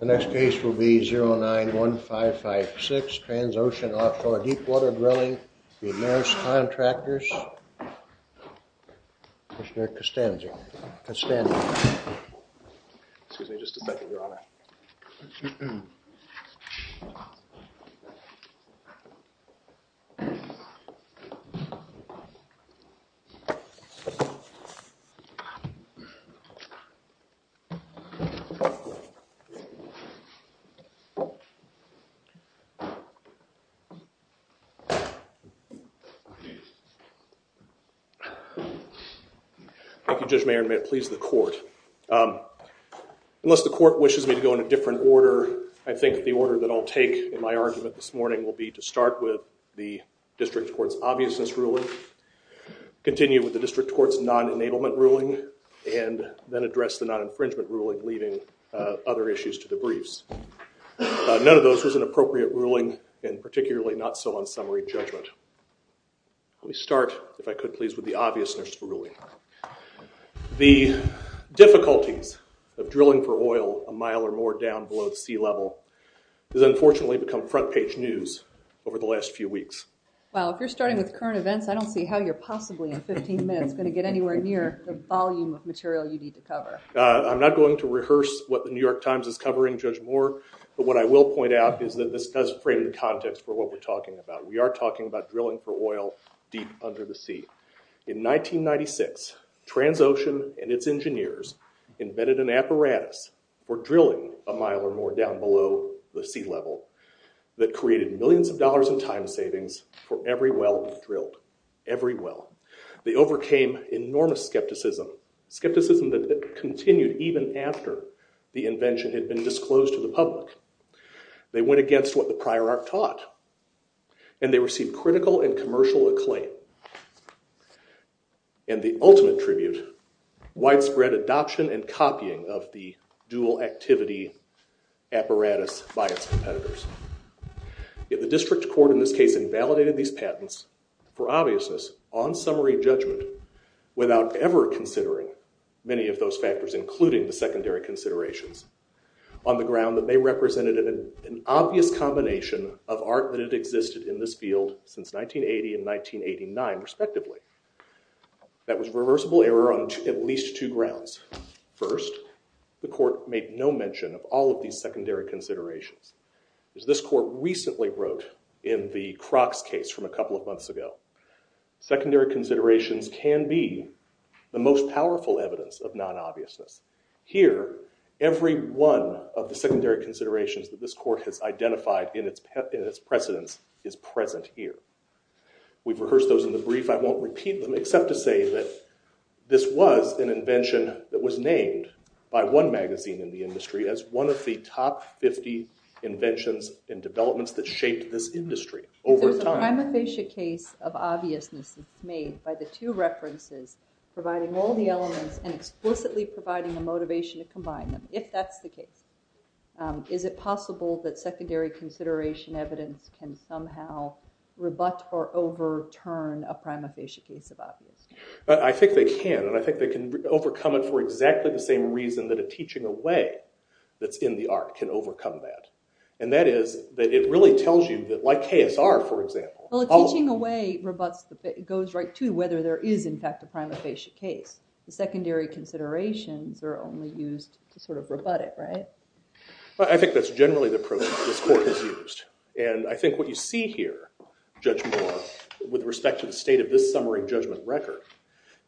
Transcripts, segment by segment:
The next case will be 09-1556, Transocean Deepwater Drilling v. Maersk Contractors. Thank you, Judge Mayer. May it please the court. Unless the court wishes me to go in a different order, I think the order that I'll take in my argument this morning will be to start with the district court's obviousness ruling, continue with the district court's non-enablement ruling, and then address the non-infringement ruling, leaving other issues to the briefs. None of those was an appropriate ruling, and particularly not so on summary judgment. Let me start, if I could please, with the obviousness ruling. The difficulties of drilling for oil a mile or more down below the sea level has unfortunately become front page news over the last few weeks. Well, if you're starting with current events, I don't see how you're possibly in 15 minutes going to get anywhere near the volume of material you need to cover. I'm not going to rehearse what the New York Times is covering, Judge Moore, but what I will point out is that this does frame the context for what we're talking about. We are talking about drilling for oil deep under the sea. In 1996, Transocean and its engineers invented an apparatus for drilling a mile or more down below the sea level that created millions of dollars in time savings for every well drilled, every well. They overcame enormous skepticism, skepticism that continued even after the invention had been disclosed to the public. They went against what the prior art taught, and they received critical and commercial acclaim. And the ultimate tribute, widespread adoption and copying of the dual activity apparatus by its competitors. Yet the district court in this case invalidated these patents for obviousness on summary judgment without ever considering many of those factors, including the secondary considerations, on the ground that they represented an obvious combination of art that had existed in this field since 1980 and 1989, respectively. That was reversible error on at least two grounds. First, the court made no mention of all of these secondary considerations. As this court recently wrote in the Crocs case from a couple of months ago, secondary considerations can be the most powerful evidence of non-obviousness. Here every one of the secondary considerations that this court has identified in its precedence is present here. We've rehearsed those in the brief. I won't repeat them except to say that this was an invention that was named by one magazine in the industry as one of the top 50 inventions and developments that shaped this industry over time. There's a prima facie case of obviousness that's made by the two references providing all the elements and explicitly providing the motivation to combine them, if that's the case. Is it rebut or overturn a prima facie case of obviousness? I think they can. And I think they can overcome it for exactly the same reason that a teaching away that's in the art can overcome that. And that is that it really tells you that, like KSR, for example. Well, a teaching away goes right to whether there is, in fact, a prima facie case. The secondary considerations are only used to sort of rebut it, right? I think that's generally the approach this court has used. And I think what you see here, Judge Moore, with respect to the state of this summary judgment record,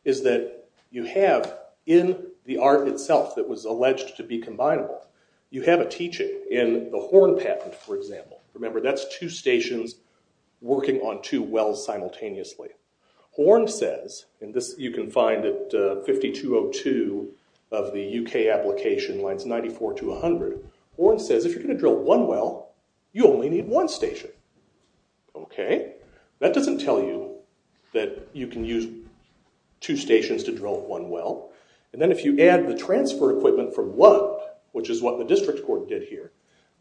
is that you have in the art itself that was alleged to be combinable, you have a teaching in the Horn patent, for example. Remember, that's two stations working on two wells simultaneously. Horn says, and this you can find at 5202 of the UK application lines 94 to 100, Horn says if you're going to drill one well, you only need one station. Okay, that doesn't tell you that you can use two stations to drill one well. And then if you add the transfer equipment from one, which is what the district court did here,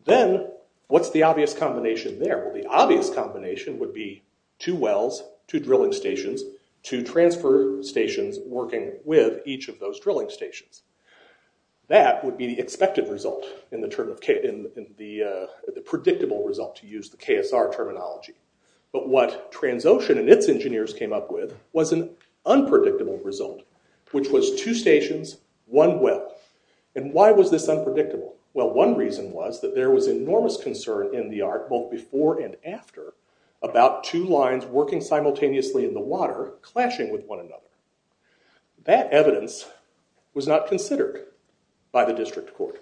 then what's the obvious combination there? Well, the obvious combination would be two wells, two drilling stations, two transfer stations working with each of those drilling stations. That would be the expected result, the predictable result, to use the KSR terminology. But what Transocean and its engineers came up with was an unpredictable result, which was two stations, one well. And why was this unpredictable? Well, one reason was that there was enormous concern in the art, both before and after, about two lines working simultaneously in the water, clashing with one another. That evidence was not considered by the district court.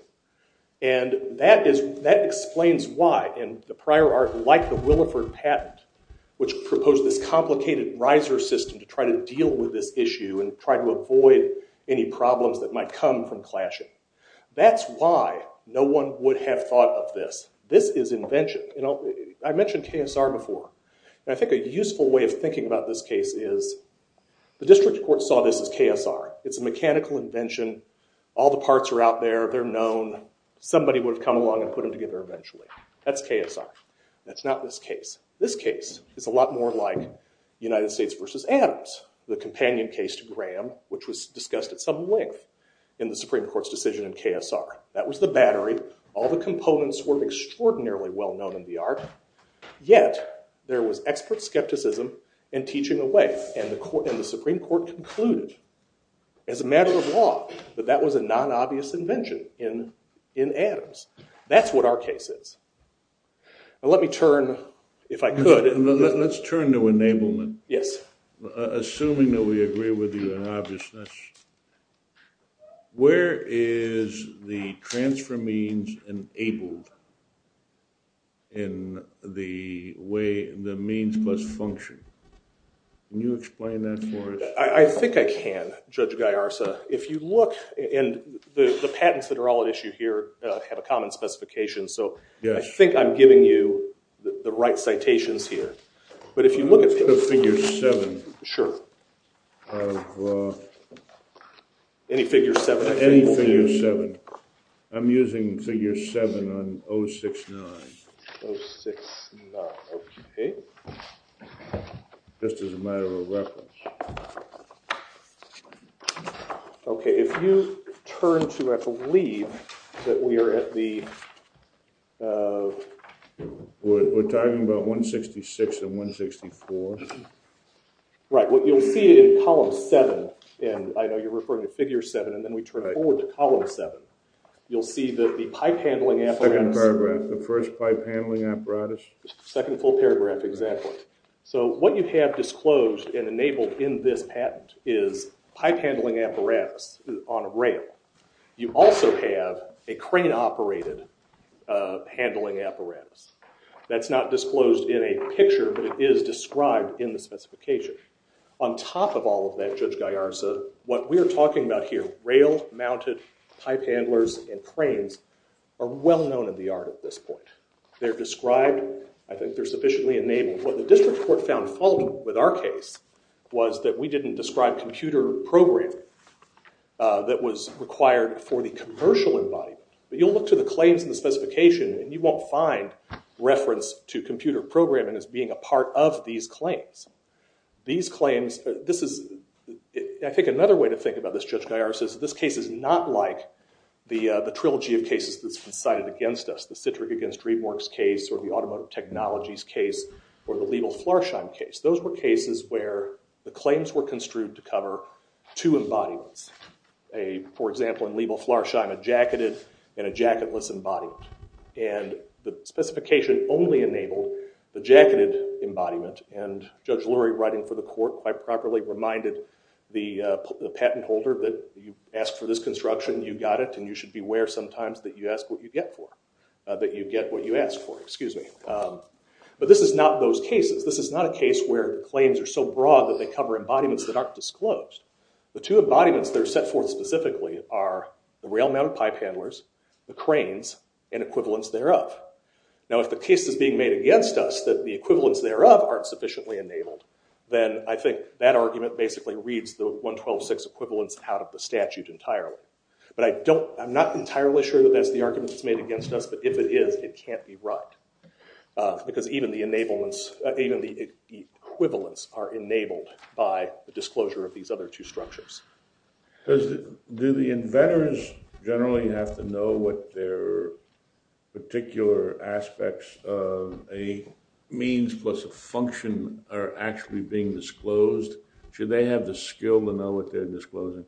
And that explains why in the prior art, like the Williford patent, which proposed this complicated riser system to try to deal with this issue and try to avoid any problems that might come from this. This is invention. I mentioned KSR before. I think a useful way of thinking about this case is the district court saw this as KSR. It's a mechanical invention. All the parts are out there. They're known. Somebody would have come along and put them together eventually. That's KSR. That's not this case. This case is a lot more like United States versus Adams, the companion case to Graham, which was discussed at some length in the Supreme Court's decision in KSR. That was the case. All the components were extraordinarily well known in the art, yet there was expert skepticism in teaching away. And the Supreme Court concluded, as a matter of law, that that was a non-obvious invention in Adams. That's what our case is. Now, let me turn, if I could. Let's turn to enablement. Yes. Assuming that we agree with you in obviousness. Where is the transfer means enabled in the way the means must function? Can you explain that for us? I think I can, Judge Gaiarsa. If you look, and the patents that are all at issue here have a common specification, so I think I'm giving you the right citations here. But if you look at figure 7. Sure. Any figure 7. Any figure 7. I'm using figure 7 on 069. 069, okay. Just as a matter of reference. Okay, if you turn to, I believe, that we are at the We're talking about 166 and 164. Right, what you'll see in column 7, and I know you're referring to figure 7, and then we turn forward to column 7. You'll see that the pipe handling apparatus. The first pipe handling apparatus. Second full paragraph, exactly. So, what you have disclosed and enabled in this patent is pipe handling apparatus on a rail. You also have a crane-operated handling apparatus. That's not disclosed in a picture, but it is described in the specification. On top of all of that, Judge Gaiarsa, what we are talking about here, rail-mounted pipe handlers and cranes, are well known in the art at this point. They're described. I think they're sufficiently enabled. What the district court found faulty with our case was that we didn't describe computer programming that was required for the commercial embodiment. But you'll look to the claims in the specification, and you won't find reference to computer programming as being a part of these claims. These claims, this is, I think another way to think about this, Judge Gaiarsa, is this case is not like the trilogy of cases that's been cited against us. The Citric against Riemork's case, or the automotive technologies case, or the Liebel-Flarscheim case. Those were cases where the claims were construed to cover two embodiments. For example, in Liebel-Flarscheim, a jacketed and a jacketless embodiment. And the specification only enabled the jacketed embodiment, and Judge Lurie, writing for the court, quite properly reminded the patent holder that you asked for this construction, you got it, and you should beware sometimes that you ask what you get for it. That you get what you ask for, excuse me. But this is not those cases. This is not a case where claims are so broad that they cover embodiments that aren't disclosed. The two embodiments that are set forth specifically are the rail-mounted pipe handlers, the cranes, and equivalents thereof. Now if the case is being made against us that the equivalents thereof aren't sufficiently enabled, then I think that argument basically reads the 112-6 equivalents out of the statute entirely. But I don't, I'm not entirely sure that that's the argument that's made against us, but if it is, it can't be right. Because even the equivalents are enabled by the disclosure of these other two structures. Because do the inventors generally have to know what their particular aspects of a means plus a function are actually being disclosed? Should they have the skill to know what they're disclosing?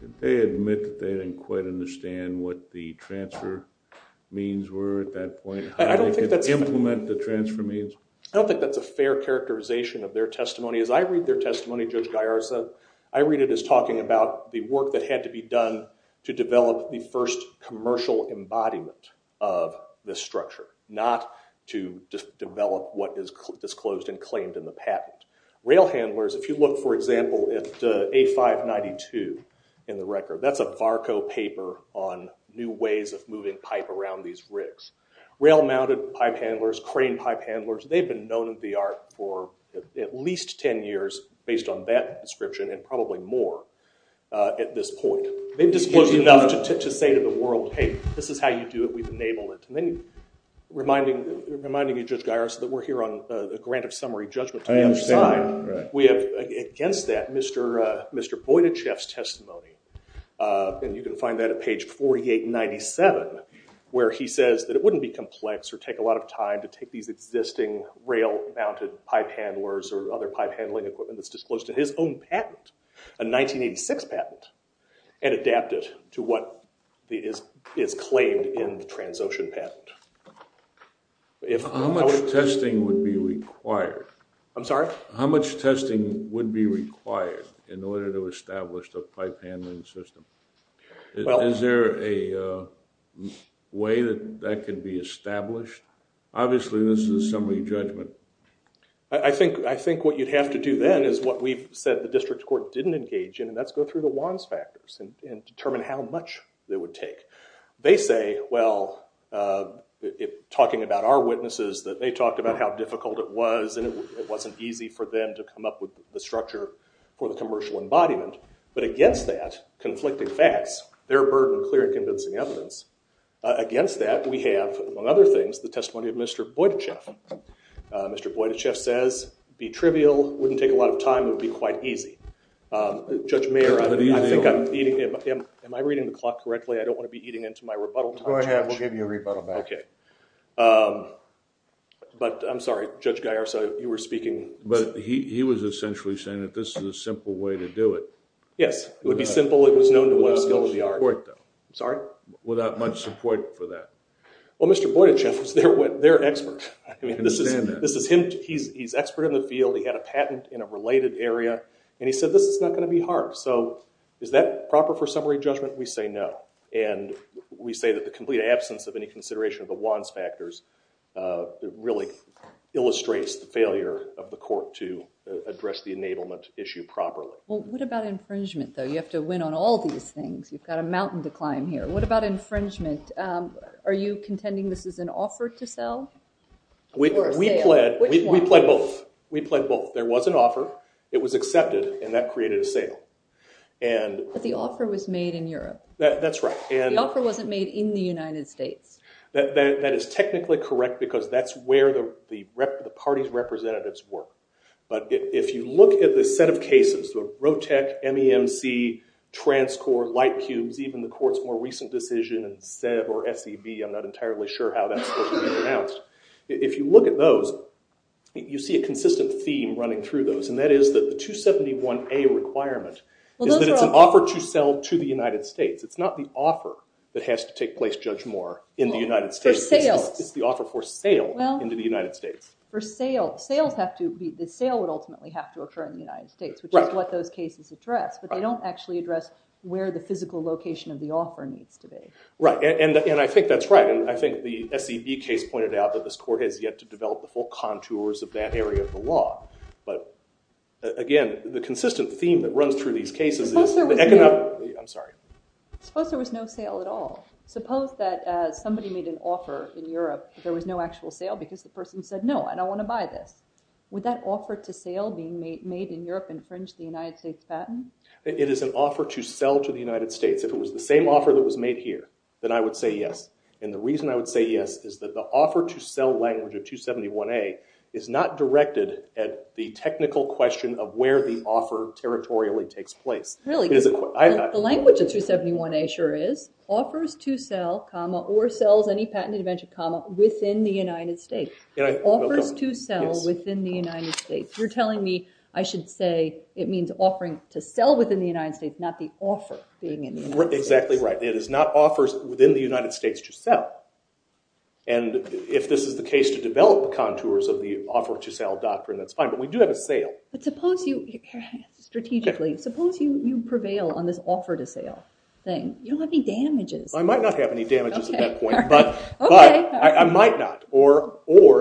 Did they admit that they didn't quite understand what the transfer means were at that point? I don't think that's... Implement the transfer means? I don't think that's a fair characterization of their testimony. As I read their testimony, I read it as talking about the work that had to be done to develop the first commercial embodiment of the structure, not to develop what is disclosed and claimed in the patent. Rail handlers, if you look, for example, at A-592 in the record, that's a VARCO paper on new ways of moving pipe around these rigs. Rail-mounted pipe handlers, crane pipe handlers, they've been known in the art for at least 10 years based on that description and probably more at this point. They've disclosed enough to say to the world, hey, this is how you do it. We've enabled it. And then reminding you, Judge Garris, that we're here on a grant of summary judgment. I understand, right. We have, against that, Mr. Boydachef's testimony, and you can find that at page 4897, where he says that it wouldn't be complex or take a lot of time to take these existing rail-mounted pipe handlers or other pipe handling equipment that's disclosed in his own patent, a 1986 patent, and adapt it to what is claimed in the Transocean patent. How much testing would be required? I'm sorry? How much testing would be required in order to establish the pipe handling system? Is there a way that that could be established? Obviously, this is a summary judgment. I think what you'd have to do then is what we've said the district court didn't engage in, and that's go through the WANs factors and determine how much they would take. They say, well, talking about our witnesses, that they talked about how difficult it was, and it wasn't easy for them to come up with the structure for the commercial embodiment. But against that, conflicting facts, they're a burden of clear and convincing evidence. Against that, we have, among other things, the testimony of Mr. Boydachef. Mr. Boydachef says, be trivial, wouldn't take a lot of time, it would be quite easy. Judge Mayer, I think I'm eating... am I reading the clock correctly? I don't want to be eating into my rebuttal time. Go ahead. We'll give you a rebuttal back. Okay. But I'm sorry, Judge Gaiarsa, you were speaking... He was essentially saying that this is a simple way to do it. Yes. It would be simple. It was known to web skills of the art. Without much support, though. Sorry? Without much support for that. Well, Mr. Boydachef was their expert. This is him. He's expert in the field. He had a patent in a related area, and he said this is not going to be hard. So is that proper for summary judgment? We say no. We say that the complete absence of any consideration of the WANs factors that really illustrates the failure of the court to address the enablement issue properly. Well, what about infringement, though? You have to win on all these things. You've got a mountain to climb here. What about infringement? Are you contending this is an offer to sell? We pled both. There was an offer. It was accepted, and that created a sale. But the offer was made in Europe. That's right. The offer wasn't made in the United States. That is technically correct, because that's where the party's representatives work. But if you look at the set of cases, the ROTEC, MEMC, TransCorp, LightCubes, even the court's more recent decision in SEV or SEB, I'm not entirely sure how that's supposed to be announced. If you look at those, you see a consistent theme running through those, and that is that the 271A requirement is that it's an offer to sell to the United States. It's not the offer that has to take place, Judge Moore, in the United States. It's the offer for sale into the United States. The sale would ultimately have to occur in the United States, which is what those cases address. But they don't actually address where the physical location of the offer needs to be. Right. And I think that's right. And I think the SEB case pointed out that this court has yet to develop the full contours of that area of the law. But again, the consistent theme that runs through these cases is the economic— I'm sorry. Suppose there was no sale at all. Suppose that somebody made an offer in Europe, but there was no actual sale because the person said, no, I don't want to buy this. Would that offer to sale being made in Europe infringe the United States' patent? It is an offer to sell to the United States. If it was the same offer that was made here, then I would say yes. And the reason I would say yes is that the offer to sell language of 271A is not directed at the technical question of where the offer territorially takes place. The language of 271A sure is offers to sell, or sells any patented invention, within the United States. Offers to sell within the United States. You're telling me I should say it means offering to sell within the United States, not the offer being in the United States. Exactly right. It is not offers within the United States to sell. And if this is the case to develop the contours of the offer to sell doctrine, that's fine. But we do have a sale. But suppose you, strategically, suppose you prevail on this offer to sale thing. You don't have any damages. I might not have any damages at that point. But I might not. Or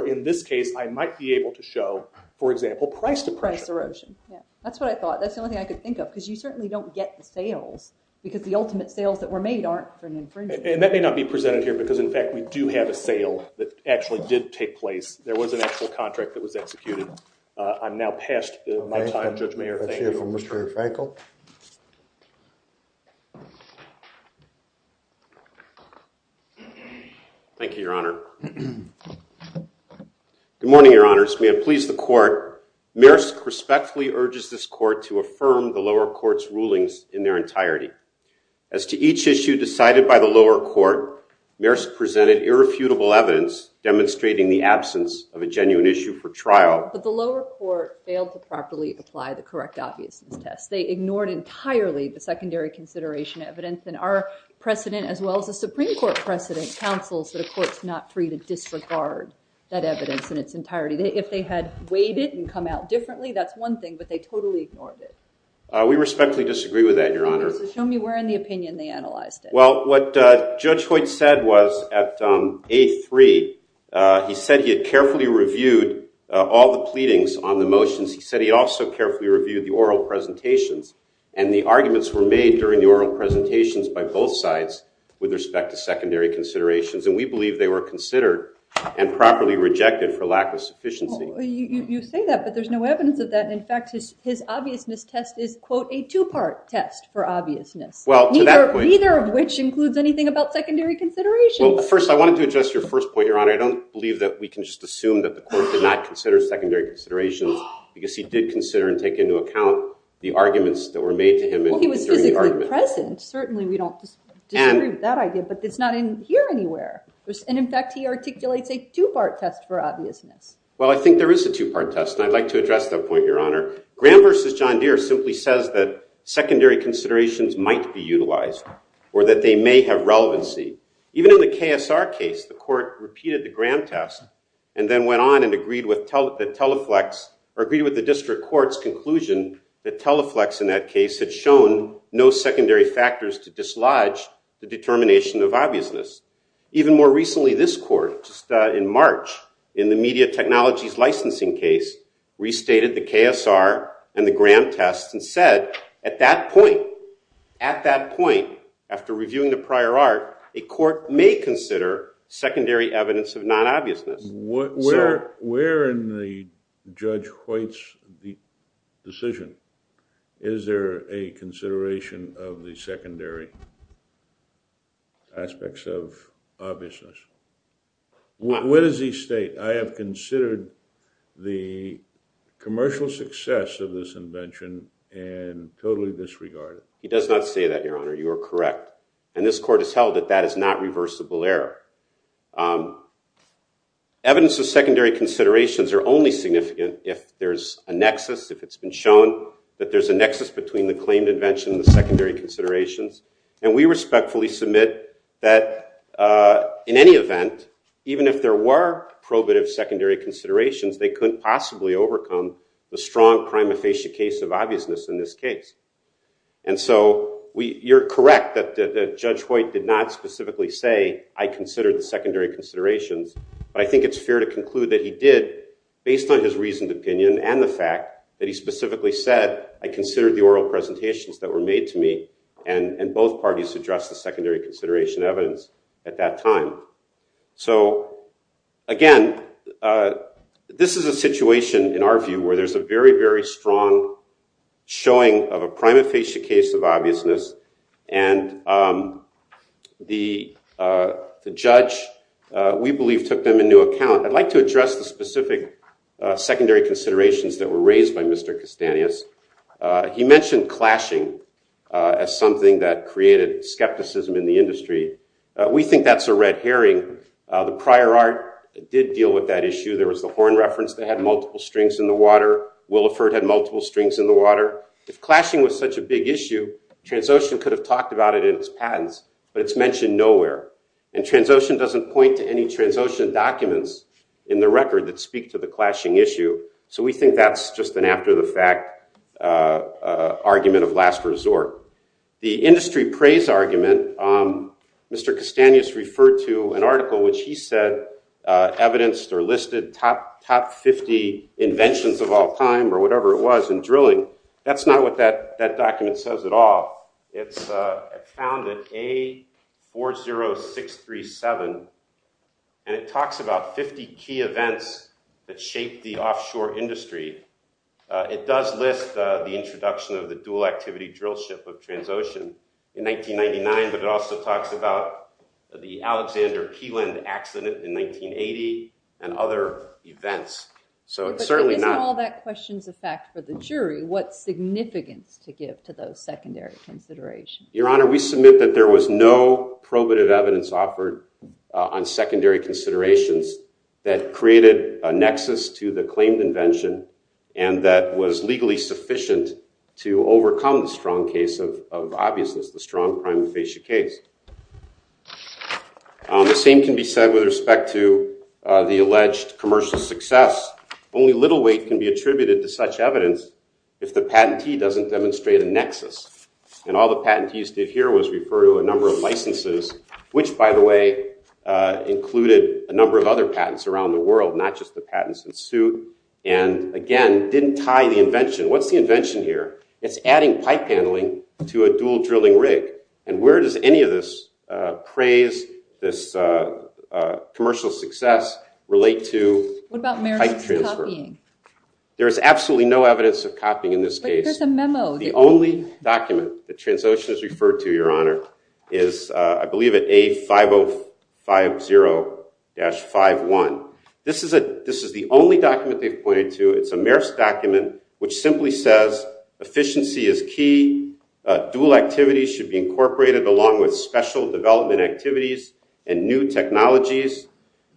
in this case, I might be able to show, for example, price depression. Price erosion. That's what I thought. That's the only thing I could think of. Because you certainly don't get the sales. Because the ultimate sales that were made aren't for an infringement. And that may not be presented here. Because in fact, we do have a sale that actually did take place. There was an actual contract that was executed. I'm now past my time. Judge Mayer, thank you. Let's hear from Mr. Frankl. Thank you, Your Honor. Good morning, Your Honors. May it please the court. Maresk respectfully urges this court to affirm the lower court's rulings in their entirety. As to each issue decided by the lower court, the lower court failed to properly apply the correct obviousness test. They ignored entirely the secondary consideration evidence. And our precedent, as well as the Supreme Court precedent, counsels that a court's not free to disregard that evidence in its entirety. If they had weighed it and come out differently, that's one thing. But they totally ignored it. We respectfully disagree with that, Your Honor. Show me where in the opinion they analyzed it. Well, what Judge Hoyt said was at A3, he said he had carefully reviewed all the pleadings on the motions. He said he also carefully reviewed the oral presentations. And the arguments were made during the oral presentations by both sides with respect to secondary considerations. And we believe they were considered and properly rejected for lack of sufficiency. Well, you say that. But there's no evidence of that. And in fact, his obviousness test is, quote, a two-part test for obviousness. Well, to that point. Neither of which includes anything about secondary considerations. Well, first, I wanted to address your first point, Your Honor. I don't believe that we can just assume that the court did not consider secondary considerations because he did consider and take into account the arguments that were made to him. Well, he was physically present. Certainly, we don't disagree with that idea. But it's not in here anywhere. And in fact, he articulates a two-part test for obviousness. Well, I think there is a two-part test. And I'd like to address that point, Your Honor. Graham v. John Deere simply says that secondary considerations might be utilized or that they may have relevancy. Even in the KSR case, the court repeated the Graham test and then went on and agreed with the district court's conclusion that teleflex in that case had shown no secondary factors to dislodge the determination of obviousness. Even more recently, this court, just in March, in the media technologies licensing case, restated the KSR and the Graham test and said, at that point, at that point, after reviewing the prior art, a court may consider secondary evidence of non-obviousness. Where in the Judge Hoyt's decision is there a consideration of the secondary aspects of obviousness? What does he state? I have considered the commercial success of this invention and totally disregarded. He does not say that, Your Honor. You are correct. And this court has held that that is not reversible error. Evidence of secondary considerations are only significant if there's a nexus, if it's been shown that there's a nexus between the claimed invention and the secondary considerations. And we respectfully submit that in any event, even if there were probative secondary considerations, they couldn't possibly overcome the strong prima facie case of obviousness in this case. And so you're correct that Judge Hoyt did not specifically say, I considered the secondary considerations. But I think it's fair to conclude that he did, based on his reasoned opinion and the fact that he specifically said, I considered the oral presentations that were made to me. And both parties addressed the secondary consideration evidence at that time. So again, this is a situation, in our view, where there's a very, very strong showing of a prima facie case of obviousness. And the judge, we believe, took them into account. I'd like to address the specific secondary considerations that were raised by Mr. Castanhas. He mentioned clashing as something that created skepticism in the industry. We think that's a red herring. The prior art did deal with that issue. There was the horn reference that had multiple strings in the water. Williford had multiple strings in the water. If clashing was such a big issue, Transocean could have talked about it in its patents. But it's mentioned nowhere. And Transocean doesn't point to any Transocean documents in the record that speak to the clashing issue. So we think that's just an after-the-fact argument of last resort. The industry praise argument, Mr. Castanhas referred to an article, which he said evidenced or listed top 50 inventions of all time, or whatever it was, in drilling. That's not what that document says at all. It's found at A40637. And it talks about 50 key events that shaped the offshore industry. It does list the introduction of the dual-activity drill ship of Transocean in 1999. But it also talks about the Alexander Keeland accident in 1980 and other events. So it's certainly not— But isn't all that questions of fact for the jury? What significance to give to those secondary considerations? Your Honor, we submit that there was no probative evidence offered on secondary considerations that created a nexus to the claimed invention and that was legally sufficient to overcome the strong case of obviousness, the strong prime facie case. The same can be said with respect to the alleged commercial success. Only little weight can be attributed to such evidence if the patentee doesn't demonstrate a nexus. And all the patentees did here was refer to a number of licenses, which, by the way, included a number of other patents around the world, not just the patents in suit, and again, didn't tie the invention. What's the invention here? It's adding pipe handling to a dual-drilling rig. And where does any of this praise, this commercial success, relate to pipe transfer? What about Merrif's copying? There is absolutely no evidence of copying in this case. But there's a memo. The only document that Transocean is referred to, Your Honor, is, I believe, at A5050-51. This is the only document they've pointed to. It's a Merrif's document which simply says, efficiency is key. Dual activity should be incorporated along with special development activities and new technologies.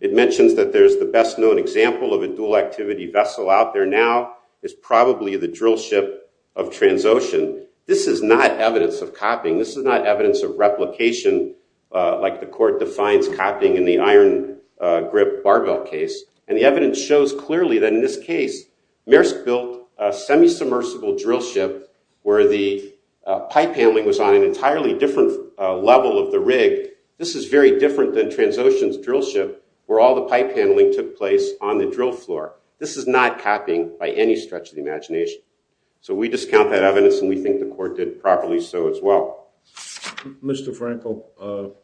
It mentions that there's the best known example of a dual activity vessel out there now is probably the drill ship of Transocean. This is not evidence of copying. This is not evidence of replication, like the court defines copying in the iron grip barbell case. And the evidence shows clearly that in this case, Merrif's built a semi-submersible drill ship where the pipe handling was on an entirely different level of the rig. This is very different than Transocean's drill ship, where all the pipe handling took place on the drill floor. This is not copying by any stretch of the imagination. So we discount that evidence. And we think the court did properly so as well. Mr. Frankel,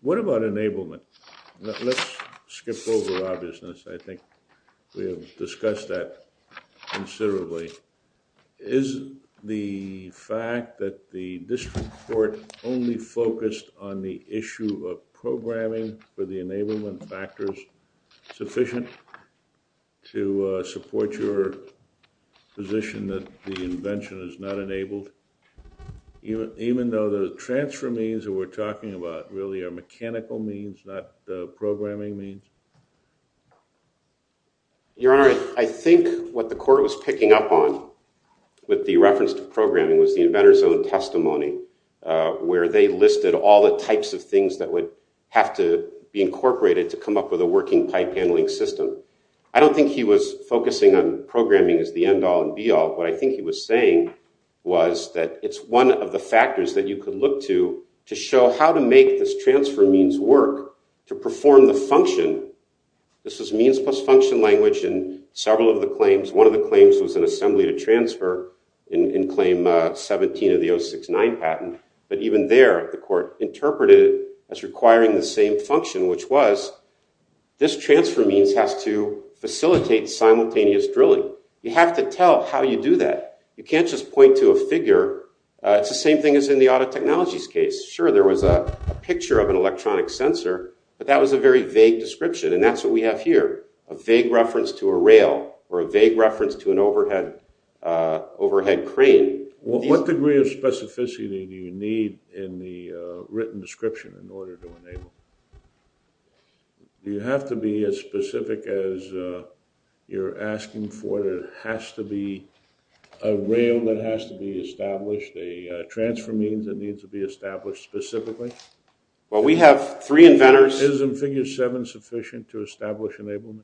what about enablement? Let's skip over obviousness. I think we have discussed that considerably. Is the fact that the district court only focused on the issue of programming for the enablement factors sufficient to support your position that the invention is not enabled? Even though the transfer means that we're talking about really are mechanical means, not programming means? Your Honor, I think what the court was picking up on with the reference to programming was the inventor's own testimony, where they listed all the types of things that would have to be incorporated to come up with a working pipe handling system. I don't think he was focusing on programming as the end all and be all. What I think he was saying was that it's one of the factors that you could look to to show how to make this transfer means work to perform the function. This was means plus function language in several of the claims. One of the claims was an assembly to transfer in claim 17 of the 069 patent. But even there, the court interpreted it as requiring the same function, which was this transfer means has to facilitate simultaneous drilling. You have to tell how you do that. You can't just point to a figure. It's the same thing as in the auto technologies case. Sure, there was a picture of an electronic sensor, but that was a very vague description. And that's what we have here, a vague reference to a rail or a vague reference to an overhead crane. What degree of specificity do you need in the written description in order to enable? You have to be as specific as you're asking for. There has to be a rail that has to be established, a transfer means that needs to be established specifically. Well, we have three inventors. Isn't figure 7 sufficient to establish enablement?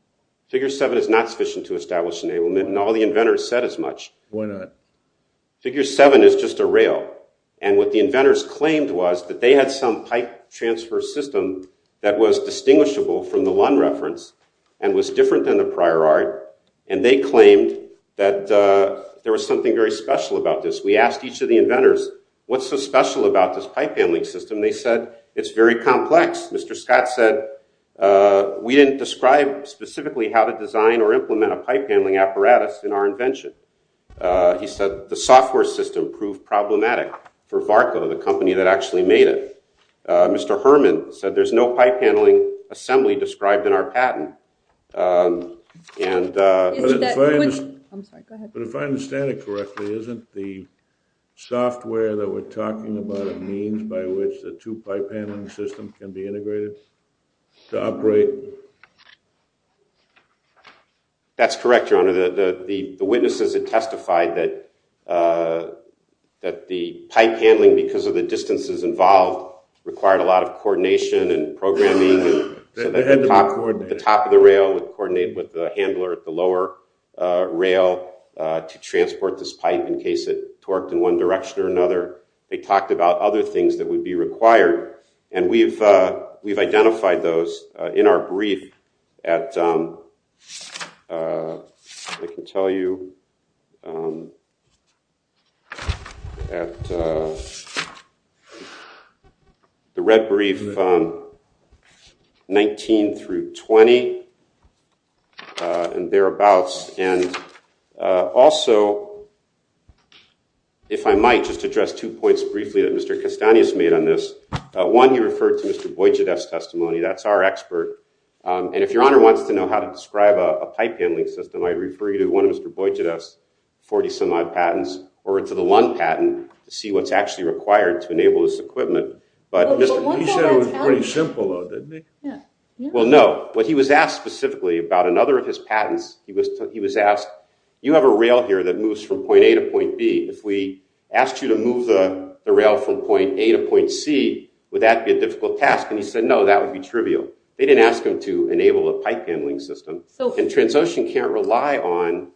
Figure 7 is not sufficient to establish enablement, and all the inventors said as much. Why not? Figure 7 is just a rail. And what the inventors claimed was that they had some pipe transfer system that was distinguishable from the one reference and was different than the prior art. And they claimed that there was something very special about this. We asked each of the inventors, what's so special about this pipe handling system? They said, it's very complex. Mr. Scott said, we didn't describe specifically how to design or implement a pipe handling apparatus in our invention. He said, the software system proved problematic for Varco, the company that actually made it. Mr. Herman said, there's no pipe handling assembly described in our patent. But if I understand it correctly, isn't the software that we're talking about a means by which the two-pipe handling system can be integrated to operate? That's correct, Your Honor. The witnesses had testified that the pipe handling, because of the distances involved, required a lot of coordination and programming. The top of the rail would coordinate with the handler at the lower rail to transport this pipe in case it torqued in one direction or another. They talked about other things that would be required. And we've identified those in our brief at, I can tell you, at the red brief 19 through 20 and thereabouts. And also, if I might, just address two points briefly that Mr. Castanhas made on this. One, he referred to Mr. Boydjadeff's testimony. That's our expert. And if Your Honor wants to know how to describe a pipe handling system, I refer you to one of Mr. Boydjadeff's 40-some-odd patents or to the Lund patent to see what's actually required to enable this equipment. But he said it was pretty simple, though, didn't he? Well, no. What he was asked specifically about another of his patents, he was asked, you have a rail here that moves from point A to point B. If we asked you to move the rail from point A to point C, would that be a difficult task? And he said, no, that would be trivial. They didn't ask him to enable a pipe handling system. And Transocean can't rely on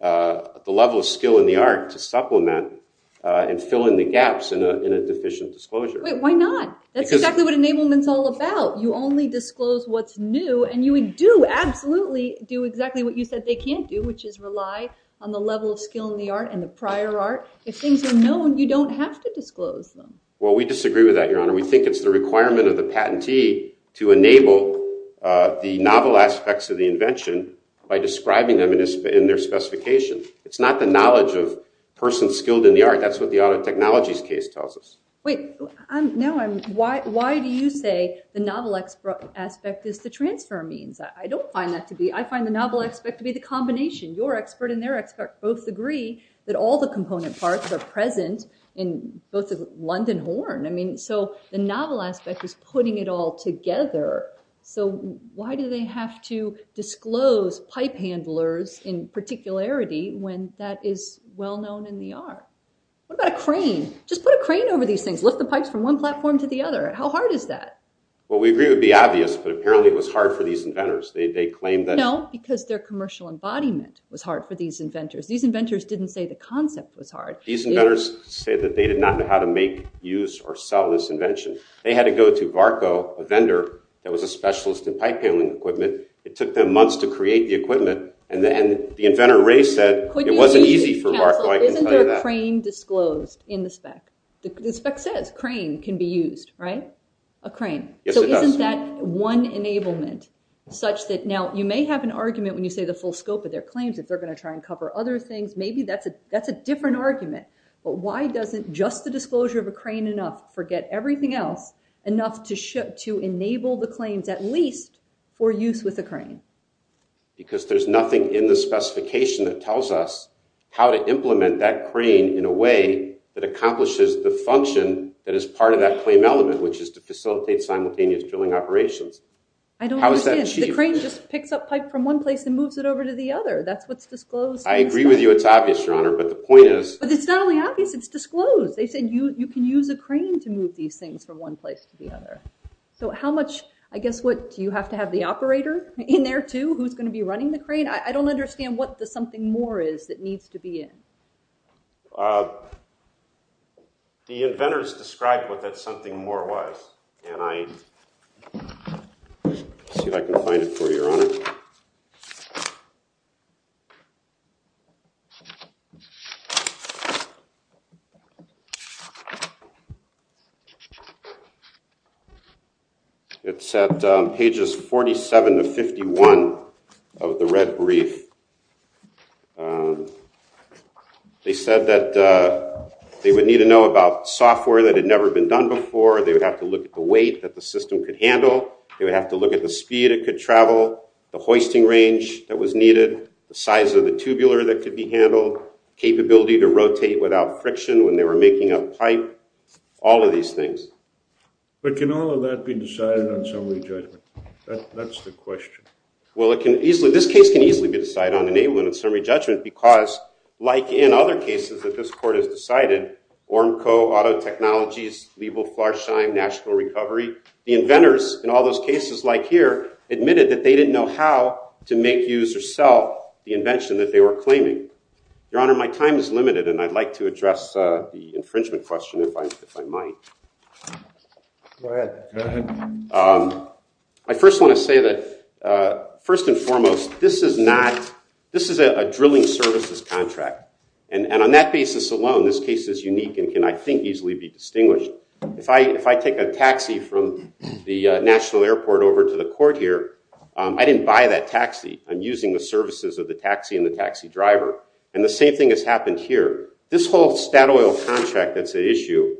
the level of skill in the art to supplement and fill in the gaps in a deficient disclosure. Wait, why not? That's exactly what enablement's all about. You only disclose what's new. And you would do, absolutely, do exactly what you said they can't do, which is rely on the level of skill in the art and the prior art. If things are known, you don't have to disclose them. Well, we disagree with that, Your Honor. We think it's the requirement of the patentee to enable the novel aspects of the invention by describing them in their specification. It's not the knowledge of persons skilled in the art. That's what the auto technologies case tells us. Wait, why do you say the novel aspect is the transfer means? I don't find that to be. I find the novel aspect to be the combination. Your expert and their expert both agree that all the component parts are present in both London horn. I mean, so the novel aspect is putting it all together. So why do they have to disclose pipe handlers in particularity when that is well-known in the art? What about a crane? Just put a crane over these things. Lift the pipes from one platform to the other. How hard is that? Well, we agree it would be obvious, but apparently it was hard for these inventors. They claim that- No, because their commercial embodiment was hard for these inventors. These inventors didn't say the concept was hard. These inventors say that they did not know how to make, use, or sell this invention. They had to go to Barco, a vendor that was a specialist in pipe handling equipment. It took them months to create the equipment, and the inventor Ray said it wasn't easy for Barco. Isn't there a crane disclosed in the spec? The spec says crane can be used, right? A crane. So isn't that one enablement such that- Now, you may have an argument when you say the full scope of their claims that they're going to try and cover other things. Maybe that's a different argument, but why doesn't just the disclosure of a crane enough forget everything else, enough to enable the claims at least for use with a crane? Because there's nothing in the specification that tells us how to implement that crane in a way that accomplishes the function that is part of that claim element, which is to facilitate simultaneous drilling operations. I don't understand. The crane just picks up pipe from one place and moves it over to the other. That's what's disclosed. I agree with you. It's obvious, Your Honor, but the point is- But it's not only obvious, it's disclosed. They said you can use a crane to move these things from one place to the other. So how much, I guess what, do you have to have the operator in there too who's going to be running the crane? I don't understand what the something more is that needs to be in. The inventors described what that something more was, and I see if I can find it for you, Your Honor. It's at pages 47 to 51 of the red brief. They said that they would need to know about software that had never been done before. They would have to look at the weight that the system could handle. They would have to look at the speed it could travel, the hoisting range that was needed, the size of the tubular that could be handled, capability to rotate without friction when they were making up pipe, all of these things. But can all of that be decided on summary judgment? That's the question. Well, it can easily, this case can easily be decided on enablement and summary judgment because, like in other cases that this court has decided, Ornco, Auto Technologies, Liebel-Flarsheim, National Recovery, the inventors in all those cases like here admitted that they didn't know how to make, use, or sell the invention that they were claiming. Your Honor, my time is limited, and I'd like to address the infringement question if I might. I first want to say that, first and foremost, this is not, this is a drilling services contract. And on that basis alone, this case is unique and can, I think, easily be distinguished. If I take a taxi from the National Airport over to the court here, I didn't buy that taxi. I'm using the services of the taxi and the taxi driver. And the same thing has happened here. This whole Statoil contract that's at issue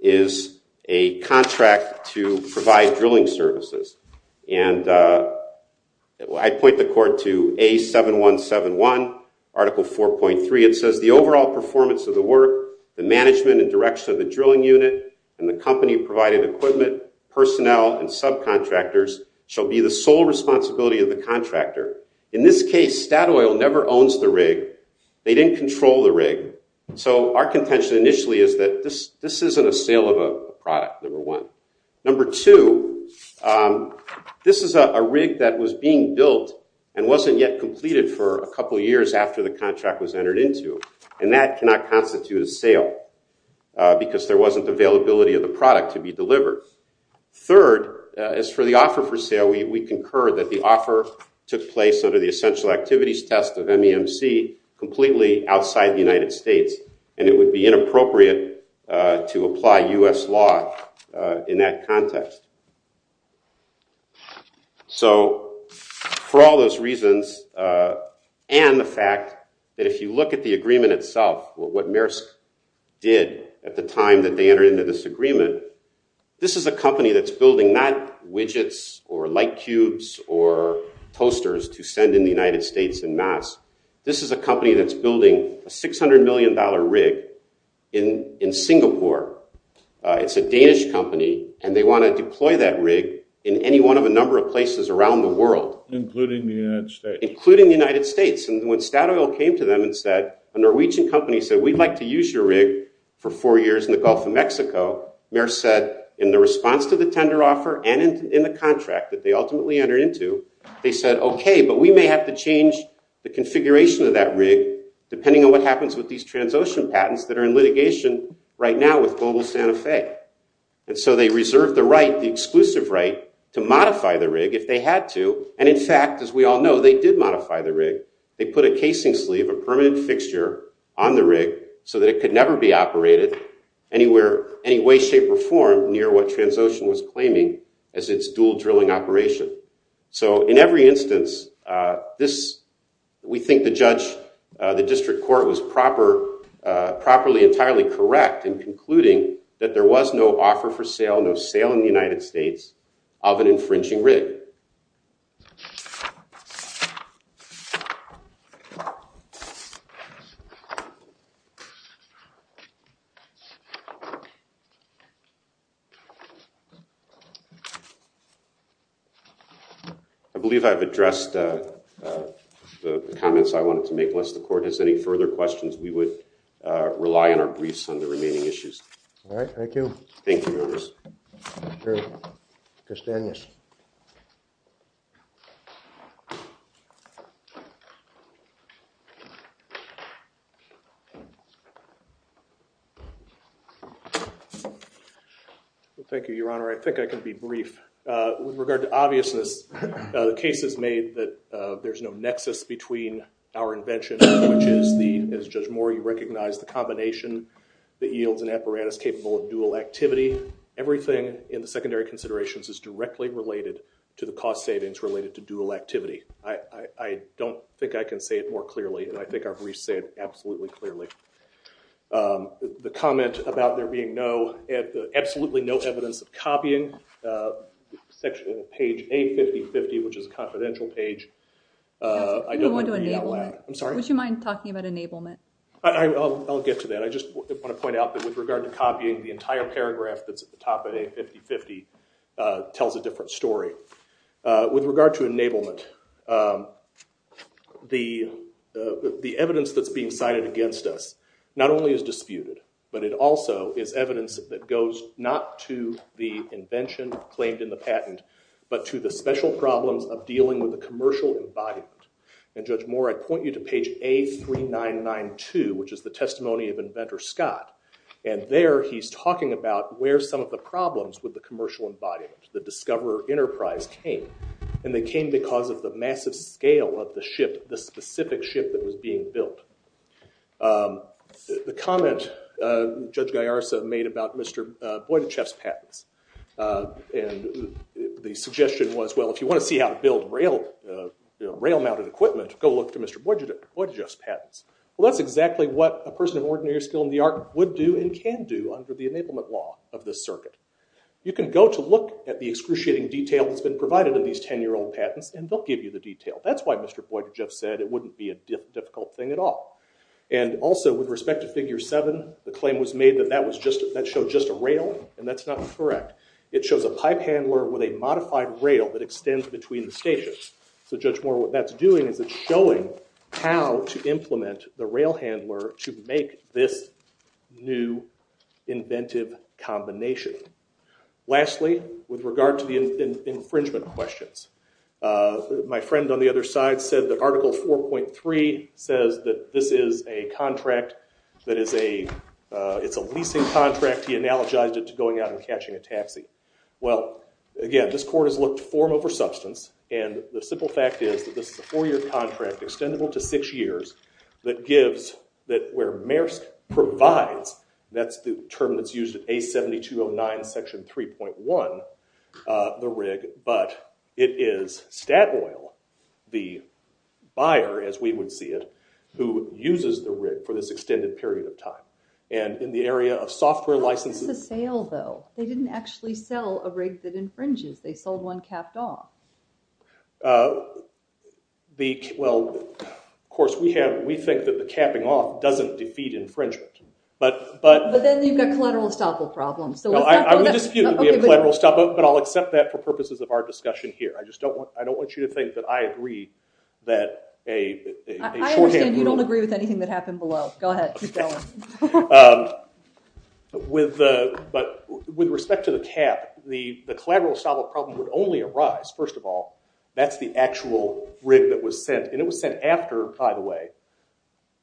is a contract to provide drilling services. And I point the court to A7171, Article 4.3. It says, the overall performance of the work, the management and direction of the drilling unit, and the company provided equipment, personnel, and subcontractors shall be the sole responsibility of the contractor. In this case, Statoil never owns the rig. They didn't control the rig. So our contention initially is that this isn't a sale of a product, number one. Number two, this is a rig that was being built and wasn't yet completed for a couple years after the contract was entered into. And that cannot constitute a sale because there wasn't availability of the product to be delivered. Third, as for the offer for sale, we concur that the offer took place under the essential activities test of MEMC completely outside the United States. And it would be inappropriate to apply U.S. law in that context. So for all those reasons, and the fact that if you look at the agreement itself, what Maersk did at the time that they entered into this agreement, this is a company that's building not widgets or light cubes or toasters to send in the United States en masse. This is a company that's building a $600 million rig in Singapore. It's a Danish company, and they want to deploy that rig in any one of a number of places around the world. And including the United States. Including the United States. And when Statoil came to them and said, a Norwegian company said, we'd like to use your rig for four years in the Gulf of Mexico, Maersk said in the response to the tender offer and in the contract that they ultimately entered into, they said, okay, but we may have to change the configuration of that rig depending on what happens with these trans-ocean patents that are in litigation right now with Global Santa Fe. And so they reserved the right, the exclusive right, to modify the rig if they had to. And in fact, as we all know, they did modify the rig. They put a casing sleeve, a permanent fixture on the rig so that it could never be operated any way, shape, or form near what trans-ocean was claiming as its dual drilling operation. So in every instance, we think the judge, the district court, was properly entirely correct in concluding that there was no offer for sale, no sale in the United States of an infringing rig. I believe I've addressed the comments I wanted to make. Unless the court has any further questions, we would rely on our briefs on the remaining issues. All right, thank you. Thank you, Your Honors. Thank you. Judge Daniels. Thank you, Your Honor. I think I can be brief. With regard to obviousness, the case is made that there's no nexus between our invention, which is the, as Judge Moore, you recognize the combination that yields an apparatus capable of dual activity. Everything in the secondary considerations is directly related to the cost savings related to dual activity. I don't think I can say it more clearly, and I think our briefs say it absolutely clearly. The comment about there being no, absolutely no evidence of copying, section of page 850.50, which is a confidential page, I don't want to be out loud. I'm sorry? Would you mind talking about enablement? I'll get to that. I just want to point out that with regard to copying, the entire paragraph that's at the top of 850.50 tells a different story. With regard to enablement, the evidence that's being cited against us, not only is disputed, but it also is evidence that goes not to the invention claimed in the patent, but to the special problems of dealing with a commercial embodiment. And Judge Moore, I point you to page A3992, which is the testimony of Inventor Scott. And there he's talking about where some of the problems with the commercial embodiment, the Discoverer Enterprise, came. And they came because of the massive scale of the ship, the specific ship that was being built. The comment Judge Gaiarsa made about Mr. Boydiceff's patents, and the suggestion was, how to build rail-mounted equipment, go look to Mr. Boydiceff's patents. Well, that's exactly what a person of ordinary skill in the art would do and can do under the enablement law of this circuit. You can go to look at the excruciating detail that's been provided in these 10-year-old patents, and they'll give you the detail. That's why Mr. Boydiceff said it wouldn't be a difficult thing at all. And also, with respect to Figure 7, the claim was made that that showed just a rail, and that's not correct. It shows a pipe handler with a modified rail that extends between the stations. So Judge Moore, what that's doing is it's showing how to implement the rail handler to make this new inventive combination. Lastly, with regard to the infringement questions, my friend on the other side said that Article 4.3 says that this is a contract that is a, it's a leasing contract. He analogized it to going out and catching a taxi. Well, again, this court has looked to form over substance, and the simple fact is that this is a four-year contract extendable to six years that gives that where Maersk provides, that's the term that's used at A7209 Section 3.1, the rig, but it is Statoil, the buyer, as we would see it, who uses the rig for this extended period of time. And in the area of software licenses- How is this a sale, though? They didn't actually sell a rig that infringes. They sold one capped off. Well, of course, we have, we think that the capping off doesn't defeat infringement, but- But then you've got collateral estoppel problems, so- No, I would dispute that we have collateral estoppel, but I'll accept that for purposes of our discussion here. I just don't want, I don't want you to think that I agree that a- I understand you don't agree with anything that happened below. Go ahead, keep going. With the, but with respect to the cap, the collateral estoppel problem would only arise, first of all, that's the actual rig that was sent, and it was sent after, by the way,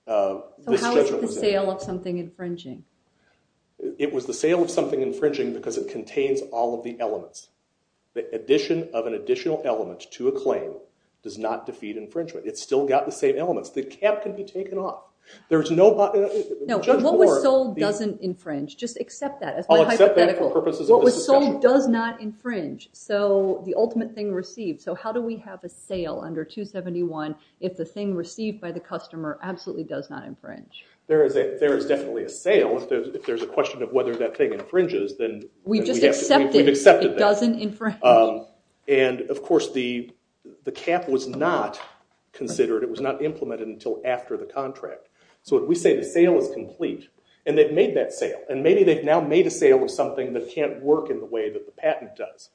the schedule was in. So how is it the sale of something infringing? It was the sale of something infringing because it contains all of the elements. The addition of an additional element to a claim does not defeat infringement. It's still got the same elements. The cap can be taken off. There's no- No, what was sold doesn't infringe. Just accept that as my hypothetical. I'll accept that for purposes of this discussion. What was sold does not infringe. So the ultimate thing received, so how do we have a sale under 271 if the thing received by the customer absolutely does not infringe? There is definitely a sale if there's a question of whether that thing infringes, then we've accepted that. It doesn't infringe. And of course the cap was not considered, it was not implemented until after the contract. So if we say the sale is complete and they've made that sale and maybe they've now made a sale with something that can't work in the way that the patent does.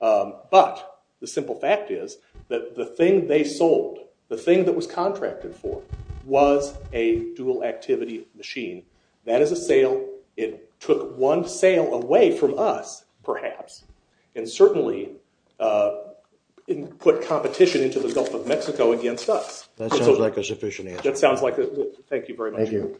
But the simple fact is that the thing they sold, the thing that was contracted for was a dual activity machine. That is a sale. It took one sale away from us perhaps and certainly put competition into the Gulf of Mexico against us. That sounds like a sufficient answer. That sounds like it. Thank you very much. Thank you.